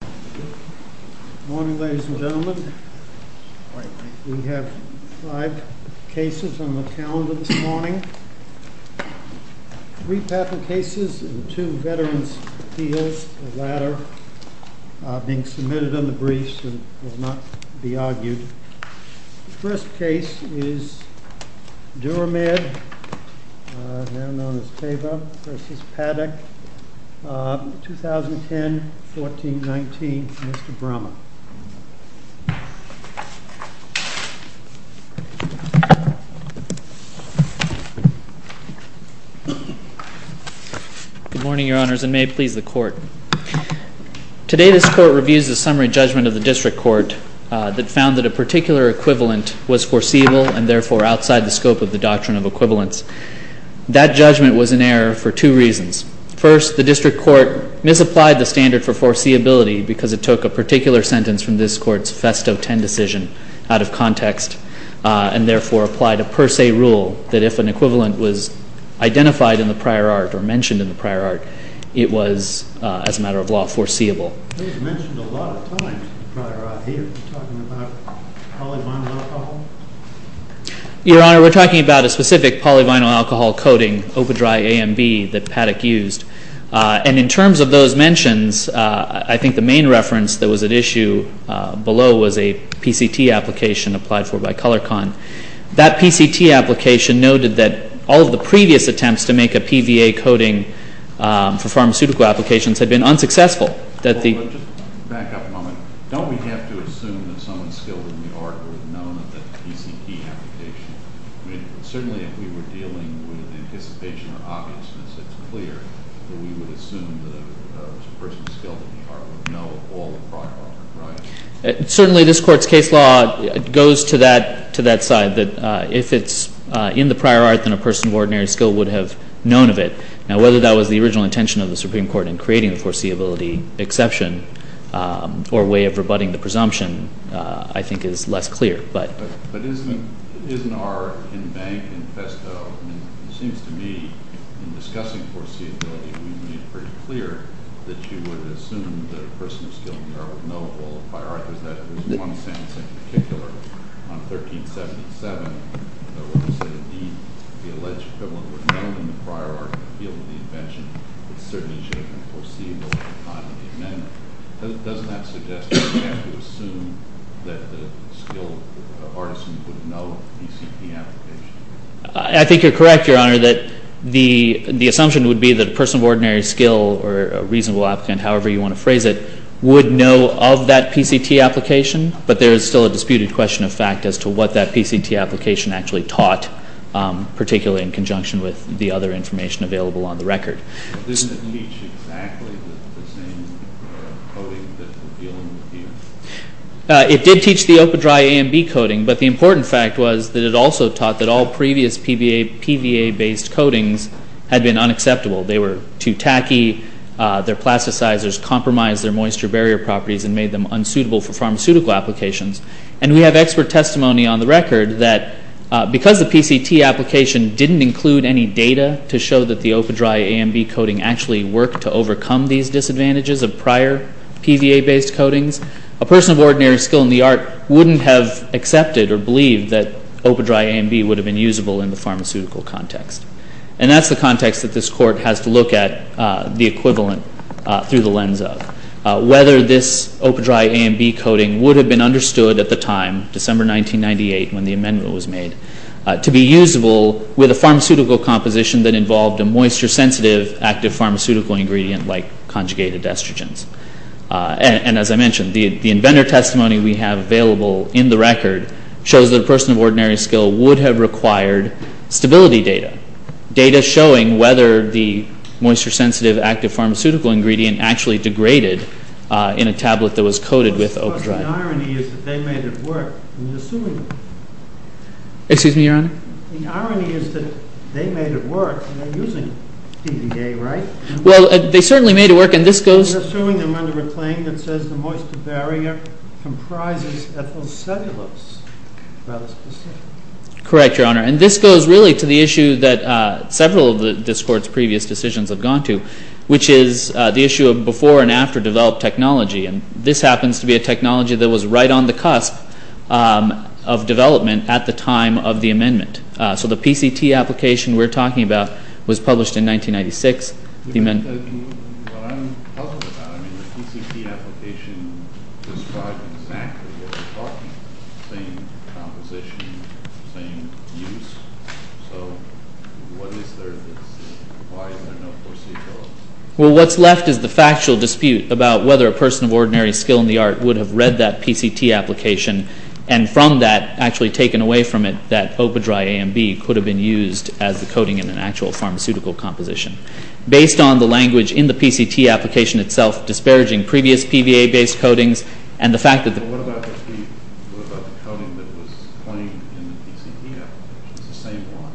Good morning, ladies and gentlemen. We have five cases on the calendar this morning. Three patent cases and two veterans' appeals, the latter being submitted under briefs and will not be argued. The first case is DURAMED, now known as TAVA v. PADDOCK, 2010-14-19. Mr. Brommer. Good morning, Your Honors, and may it please the Court. Today, this Court reviews the summary judgment of the District Court that found that a particular equivalent was foreseeable and therefore outside the scope of the doctrine of equivalence. That judgment was in error for two reasons. First, the District Court misapplied the standard for foreseeability because it took a particular sentence from this Court's Festo 10 decision out of context and therefore applied a per se rule that if an equivalent was identified in the prior art or mentioned in the prior art, it was, as a matter of law, foreseeable. Your Honor, we're talking about a specific polyvinyl alcohol coating, OPA-DRY-AMB, that Paddock used. And in terms of those mentions, I think the main reference that was at issue below was a PCT application applied for by ColorCon. That PCT application noted that all of the previous attempts to make a PVA coating for pharmaceutical applications had been unsuccessful. Back up a moment. Don't we have to assume that someone skilled in the art would have known of that PCT application? Certainly, if we were dealing with anticipation or obviousness, it's clear that we would assume that a person skilled in the art would know of all the prior art, right? Certainly, this Court's case law goes to that side, that if it's in the prior art, then a person of ordinary skill would have known of it. Now, whether that was the original intention of the Supreme Court in creating the foreseeability exception, or a way of rebutting the presumption, I think is less clear. But isn't our in bank, in festo, it seems to me, in discussing foreseeability, we made it pretty clear that you would assume that a person of skilled in the art would know of all the prior art. I think you're correct, Your Honor, that the assumption would be that a person of ordinary skill or a reasonable applicant, however you want to phrase it, would know of that PCT application, but there is still a disputed question of fact as to what that PCT application actually taught, particularly in conjunction with the other information available on the record. Doesn't it teach exactly the same coding that we're dealing with here? It did teach the OPA-Dry A and B coding, but the important fact was that it also taught that all previous PVA-based coatings had been unacceptable. They were too tacky, their plasticizers compromised their moisture barrier properties and made them unsuitable for pharmaceutical applications. And we have expert testimony on the record that because the PCT application didn't include any data to show that the OPA-Dry A and B coding actually worked to overcome these disadvantages of prior PVA-based coatings, a person of ordinary skill in the art wouldn't have accepted or believed that OPA-Dry A and B would have been usable in the pharmaceutical context. And that's the context that this Court has to look at the equivalent through the lens of. Whether this OPA-Dry A and B coding would have been understood at the time, December 1998, when the amendment was made, to be usable with a pharmaceutical composition that involved a moisture-sensitive active pharmaceutical ingredient like conjugated estrogens. And as I mentioned, the inventor testimony we have available in the record shows that a person of ordinary skill would have required stability data. Data showing whether the moisture-sensitive active pharmaceutical ingredient actually degraded in a tablet that was coated with OPA-Dry. The irony is that they made it work, and they're using PVA, right? Well, they certainly made it work, and this goes... You're suing them under a claim that says the moisture barrier comprises ethyl cellulose. Correct, Your Honor. And this goes really to the issue that several of this Court's previous decisions have gone to, which is the issue of before and after developed technology. And this happens to be a technology that was right on the cusp of development at the time of the amendment. So the PCT application we're talking about was published in 1996. What I'm puzzled about, I mean, the PCT application describes exactly what we're talking about. Same composition, same use. So what is there to see? Why is there no foreseeable outcome? Well, what's left is the factual dispute about whether a person of ordinary skill in the art would have read that PCT application and from that actually taken away from it that OPA-Dry A and B could have been used as the coating in an actual pharmaceutical composition. Based on the language in the PCT application itself disparaging previous PVA-based coatings and the fact that... Well, what about the coating that was claimed in the PCT application? It's the same one.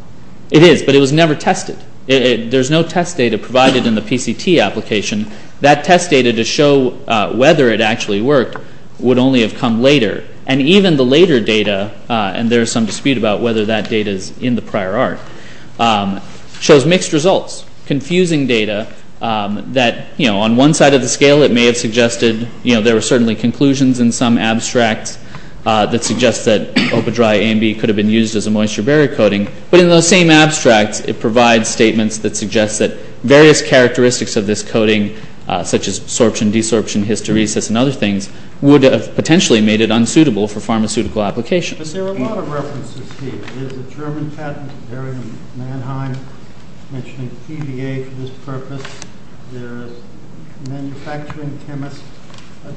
It is, but it was never tested. There's no test data provided in the PCT application. That test data to show whether it actually worked would only have come later. And even the later data, and there is some dispute about whether that data is in the prior art, shows mixed results. Confusing data that, you know, on one side of the scale it may have suggested, you know, there were certainly conclusions in some abstracts that suggest that OPA-Dry A and B could have been used as a moisture barrier coating. But in those same abstracts it provides statements that suggest that various characteristics of this coating, such as sorption, desorption, hysteresis, and other things, would have potentially made it unsuitable for pharmaceutical applications. There are a lot of references here. There's a German patent, Bergen-Mannheim, mentioning PVA for this purpose. There's a manufacturing chemist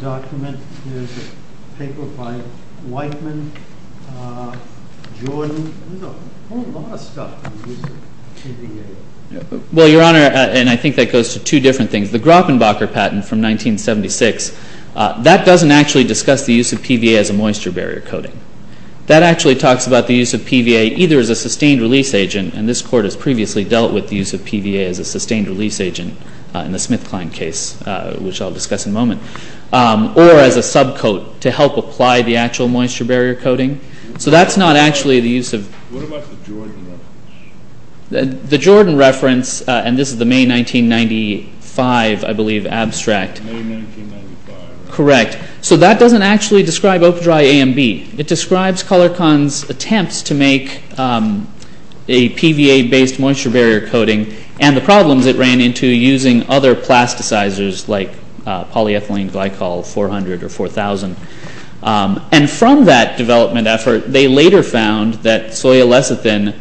document. There's a paper by Weitman, Jordan. There's a whole lot of stuff that uses PVA. Well, Your Honor, and I think that goes to two different things. The Grappenbacher patent from 1976, that doesn't actually discuss the use of PVA as a moisture barrier coating. That actually talks about the use of PVA either as a sustained release agent, and this court has previously dealt with the use of PVA as a sustained release agent in the Smith-Klein case, which I'll discuss in a moment, or as a subcoat to help apply the actual moisture barrier coating. So that's not actually the use of… What about the Jordan reference? The Jordan reference, and this is the May 1995, I believe, abstract. May 1995. Correct. So that doesn't actually describe Opidry-AMB. It describes Colorcon's attempts to make a PVA-based moisture barrier coating and the problems it ran into using other plasticizers like polyethylene glycol 400 or 4000. And from that development effort, they later found that soya lecithin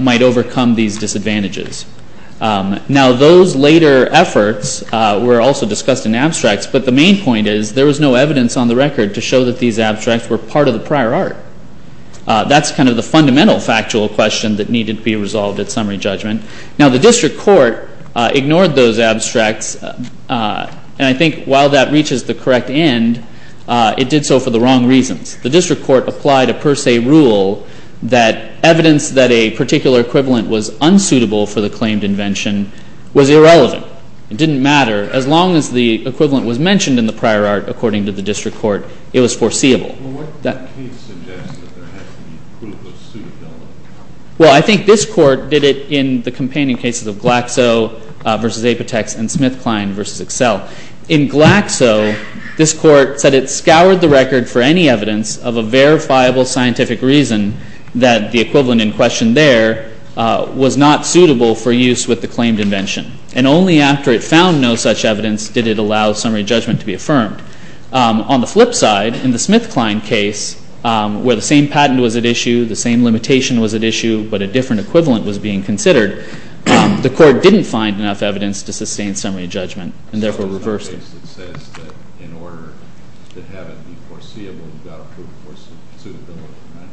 might overcome these disadvantages. Now, those later efforts were also discussed in abstracts, but the main point is there was no evidence on the record to show that these abstracts were part of the prior art. That's kind of the fundamental factual question that needed to be resolved at summary judgment. Now, the district court ignored those abstracts, and I think while that reaches the correct end, it did so for the wrong reasons. The district court applied a per se rule that evidence that a particular equivalent was unsuitable for the claimed invention was irrelevant. It didn't matter. As long as the equivalent was mentioned in the prior art, according to the district court, it was foreseeable. Well, what did that case suggest that there has to be equivalent suitability? Well, I think this court did it in the companion cases of Glaxo versus Apotex and SmithKline versus Excel. In Glaxo, this court said it scoured the record for any evidence of a verifiable scientific reason that the equivalent in question there was not suitable for use with the claimed invention. And only after it found no such evidence did it allow summary judgment to be affirmed. On the flip side, in the SmithKline case, where the same patent was at issue, the same limitation was at issue, but a different equivalent was being considered, the court didn't find enough evidence to sustain summary judgment, and therefore reversed it. It says that in order to have it be foreseeable, you've got to prove foreseeability, right?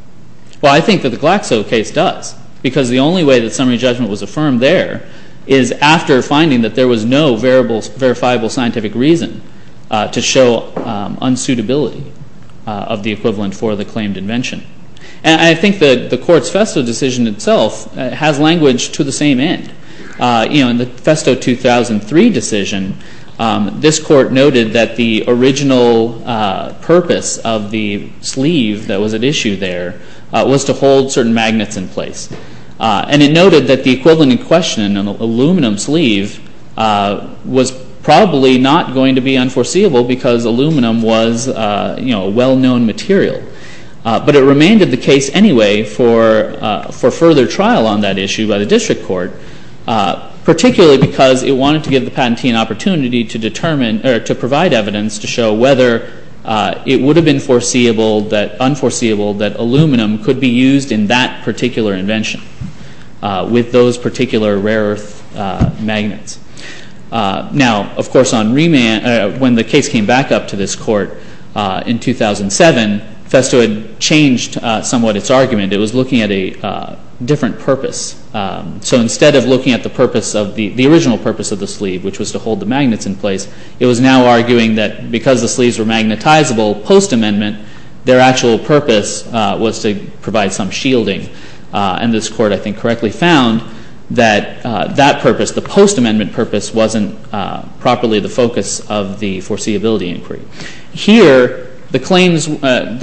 Well, I think that the Glaxo case does, because the only way that summary judgment was affirmed there is after finding that there was no verifiable scientific reason to show unsuitability of the equivalent for the claimed invention. And I think that the court's FESTO decision itself has language to the same end. In the FESTO 2003 decision, this court noted that the original purpose of the sleeve that was at issue there was to hold certain magnets in place. And it noted that the equivalent in question, an aluminum sleeve, was probably not going to be unforeseeable because aluminum was a well-known material. But it remanded the case anyway for further trial on that issue by the district court, particularly because it wanted to give the patentee an opportunity to provide evidence to show whether it would have been unforeseeable that aluminum could be used in that particular invention with those particular rare-earth magnets. Now, of course, when the case came back up to this court in 2007, FESTO had changed somewhat its argument. It was looking at a different purpose. So instead of looking at the original purpose of the sleeve, which was to hold the magnets in place, it was now arguing that because the sleeves were magnetizable post-amendment, their actual purpose was to provide some shielding. And this court, I think, correctly found that that purpose, the post-amendment purpose, wasn't properly the focus of the foreseeability inquiry. Here, the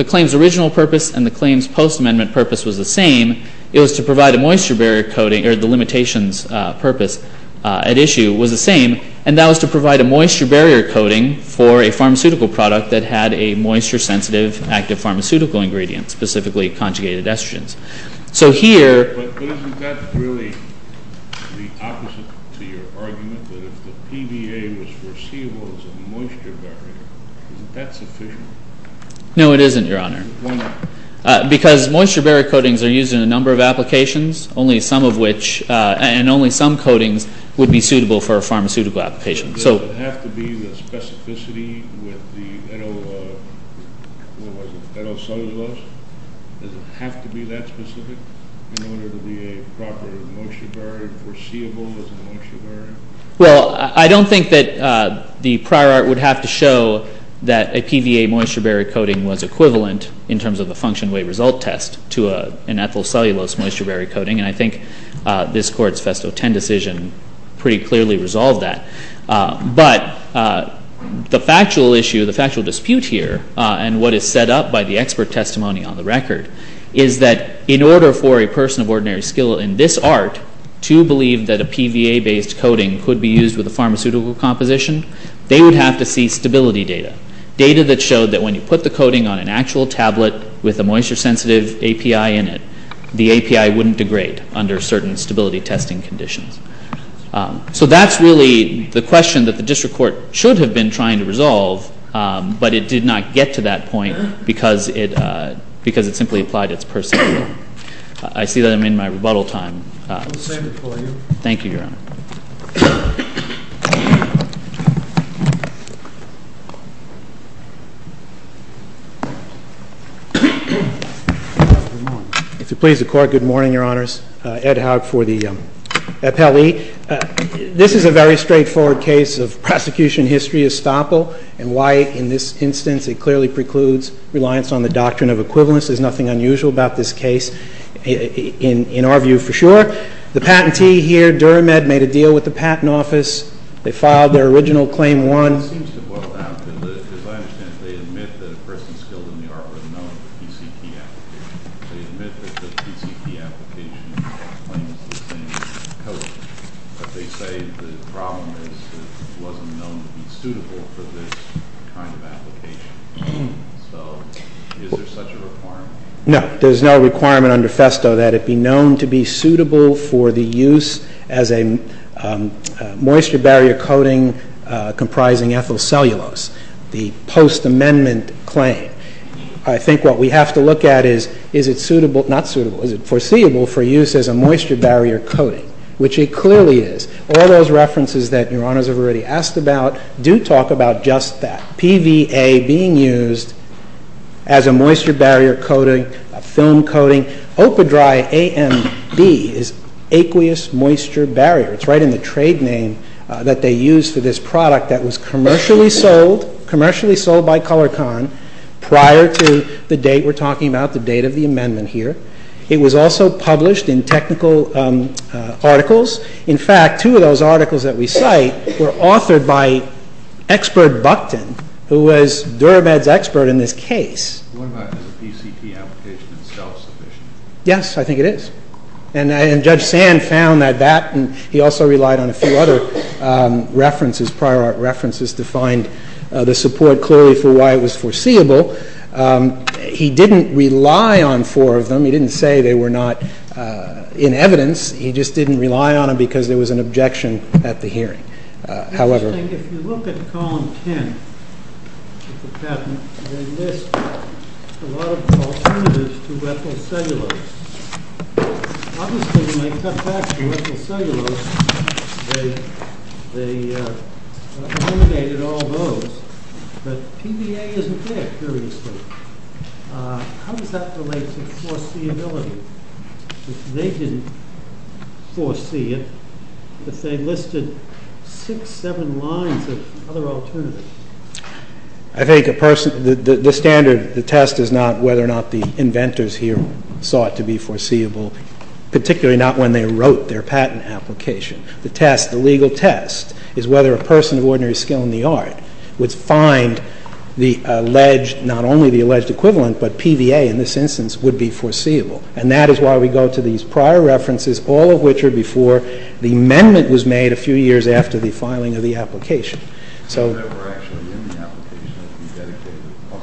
claim's original purpose and the claim's post-amendment purpose was the same. It was to provide a moisture barrier coating, or the limitations purpose at issue was the same, and that was to provide a moisture barrier coating for a pharmaceutical product that had a moisture-sensitive active pharmaceutical ingredient, specifically conjugated estrogens. So here… But isn't that really the opposite to your argument, that if the PVA was foreseeable as a moisture barrier, isn't that sufficient? No, it isn't, Your Honor. Why not? Because moisture barrier coatings are used in a number of applications, and only some coatings would be suitable for a pharmaceutical application. Does it have to be the specificity with the ethyl…what was it, ethyl cellulose? Does it have to be that specific in order to be a proper moisture barrier, foreseeable as a moisture barrier? Well, I don't think that the prior art would have to show that a PVA moisture barrier coating was equivalent, in terms of the function-weight result test, to an ethyl cellulose moisture barrier coating, and I think this Court's Festo 10 decision pretty clearly resolved that. But the factual issue, the factual dispute here, and what is set up by the expert testimony on the record, is that in order for a person of ordinary skill in this art to believe that a PVA-based coating could be used with a pharmaceutical composition, they would have to see stability data, data that showed that when you put the coating on an actual tablet with a moisture-sensitive API in it, the API wouldn't degrade under certain stability testing conditions. So that's really the question that the District Court should have been trying to resolve, but it did not get to that point because it simply applied its personal view. I see that I'm in my rebuttal time. Thank you, Your Honor. If you please, the Court. Good morning, Your Honors. Ed Haug for the appellee. This is a very straightforward case of prosecution history estoppel, and why in this instance it clearly precludes reliance on the doctrine of equivalence is nothing unusual about this case. In our view, for sure. The patentee here, DuraMed, made a deal with the Patent Office. They filed their original Claim 1. It seems to boil down to, as I understand it, they admit that a person skilled in the art were known for PCT applications. They admit that the PCT application claims the same coating, but they say the problem is it wasn't known to be suitable for this kind of application. So is there such a requirement? No, there's no requirement under FESTO that it be known to be suitable for the use as a moisture-barrier coating comprising ethyl cellulose, the post-amendment claim. I think what we have to look at is, is it suitable, not suitable, is it foreseeable for use as a moisture-barrier coating, which it clearly is. All those references that Your Honors have already asked about do talk about just that, PVA being used as a moisture-barrier coating, a film coating. OpaDry-AMB is aqueous moisture barrier. It's right in the trade name that they used for this product that was commercially sold, commercially sold by Colorcon prior to the date we're talking about, the date of the amendment here. It was also published in technical articles. In fact, two of those articles that we cite were authored by expert Buckton, who was DuraBed's expert in this case. What about if a PCT application is self-sufficient? Yes, I think it is. And Judge Sand found that that, and he also relied on a few other references, prior art references to find the support clearly for why it was foreseeable. He didn't rely on four of them. He didn't say they were not in evidence. He just didn't rely on them because there was an objection at the hearing. Interesting, if you look at column 10 of the patent, they list a lot of alternatives to ethyl cellulose. Obviously, when they cut back to ethyl cellulose, they eliminated all those. But PVA isn't there, curiously. How does that relate to foreseeability? They didn't foresee it, but they listed six, seven lines of other alternatives. I think the standard test is not whether or not the inventors here saw it to be foreseeable, particularly not when they wrote their patent application. The test, the legal test, is whether a person of ordinary skill in the art would find the alleged, not only the alleged equivalent, but PVA in this instance would be foreseeable. And that is why we go to these prior references, all of which are before the amendment was made a few years after the filing of the application. So,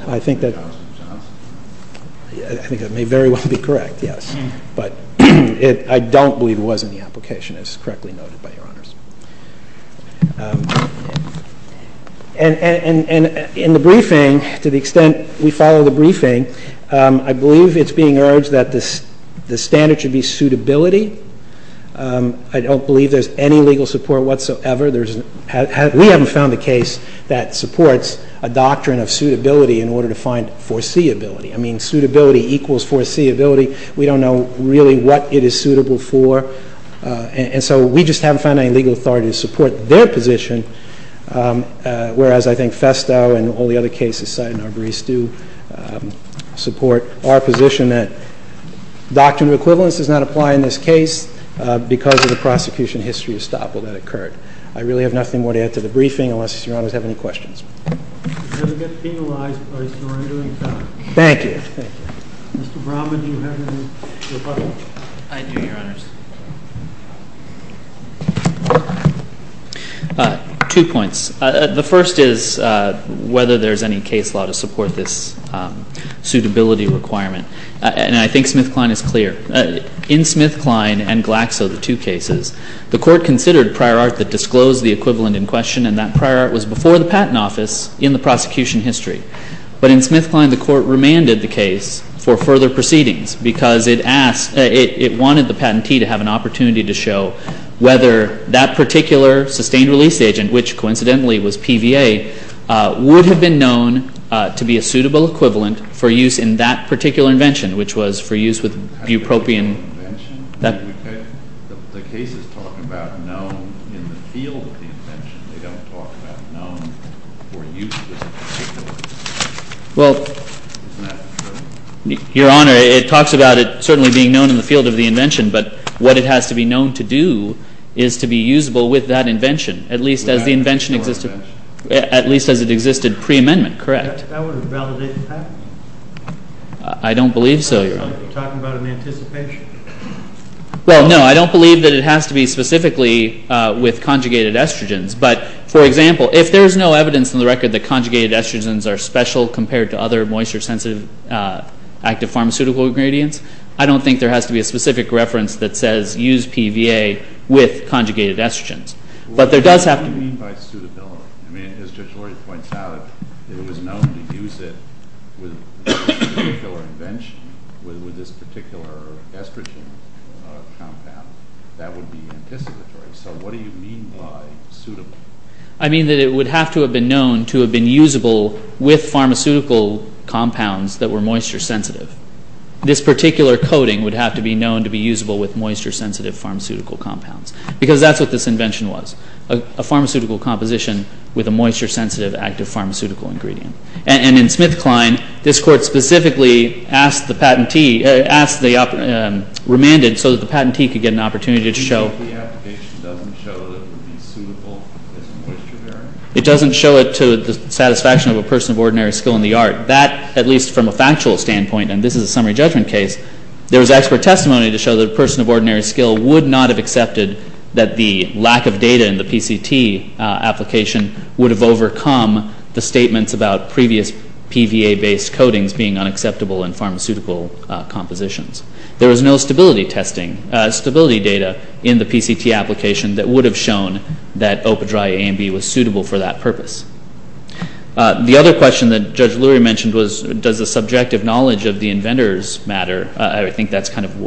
I think that may very well be correct, yes. But I don't believe it was in the application, as is correctly noted by Your Honors. And in the briefing, to the extent we follow the briefing, I believe it's being urged that the standard should be suitability. I don't believe there's any legal support whatsoever. We haven't found a case that supports a doctrine of suitability in order to find foreseeability. I mean, suitability equals foreseeability. We don't know really what it is suitable for. And so, we just haven't found any legal authority to support their position, whereas I think Festo and all the other cases cited in our briefs do support our position that doctrine of equivalence does not apply in this case because of the prosecution history estoppel that occurred. I really have nothing more to add to the briefing, unless Your Honors have any questions. Does it get penalized by surrendering a felony? Thank you. Thank you. Mr. Brahman, do you have anything to report? I do, Your Honors. Two points. The first is whether there's any case law to support this suitability requirement. And I think SmithKline is clear. In SmithKline and Glaxo, the two cases, the Court considered prior art that disclosed the equivalent in question, and that prior art was before the Patent Office in the prosecution history. But in SmithKline, the Court remanded the case for further proceedings because it wanted the patentee to have an opportunity to show whether that particular sustained release agent, which coincidentally was PVA, would have been known to be a suitable equivalent for use in that particular invention, which was for use with bupropion. The case is talking about known in the field of the invention. They don't talk about known for use in this particular invention. Well, Your Honor, it talks about it certainly being known in the field of the invention, but what it has to be known to do is to be usable with that invention, at least as the invention existed, at least as it existed pre-amendment, correct? That would validate the patent. I don't believe so, Your Honor. Are you talking about an anticipation? Well, no, I don't believe that it has to be specifically with conjugated estrogens. But, for example, if there's no evidence in the record that conjugated estrogens are special compared to other moisture-sensitive active pharmaceutical ingredients, I don't think there has to be a specific reference that says use PVA with conjugated estrogens. What do you mean by suitability? I mean, as Judge Lori points out, it was known to use it with this particular invention, with this particular estrogen compound. That would be anticipatory. So what do you mean by suitable? I mean that it would have to have been known to have been usable with pharmaceutical compounds that were moisture-sensitive. This particular coating would have to be known to be usable with moisture-sensitive pharmaceutical compounds. Because that's what this invention was, a pharmaceutical composition with a moisture-sensitive active pharmaceutical ingredient. And in SmithKline, this Court specifically asked the patentee, asked the remanded so that the patentee could get an opportunity to show So the application doesn't show that it would be suitable as a moisture-bearing? It doesn't show it to the satisfaction of a person of ordinary skill in the art. That, at least from a factual standpoint, and this is a summary judgment case, there was expert testimony to show that a person of ordinary skill would not have accepted that the lack of data in the PCT application would have overcome the statements about previous PVA-based coatings being unacceptable in pharmaceutical compositions. There was no stability testing, stability data in the PCT application that would have shown that Opa-Dry A and B was suitable for that purpose. The other question that Judge Lurie mentioned was, does the subjective knowledge of the inventors matter? I think that's kind of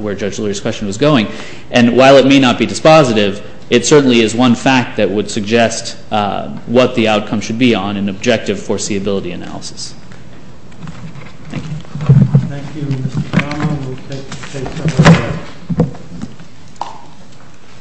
where Judge Lurie's question was going. And while it may not be dispositive, it certainly is one fact that would suggest what the outcome should be on an objective foreseeability analysis. Thank you. Thank you, Mr. Cameron. We'll take some more questions.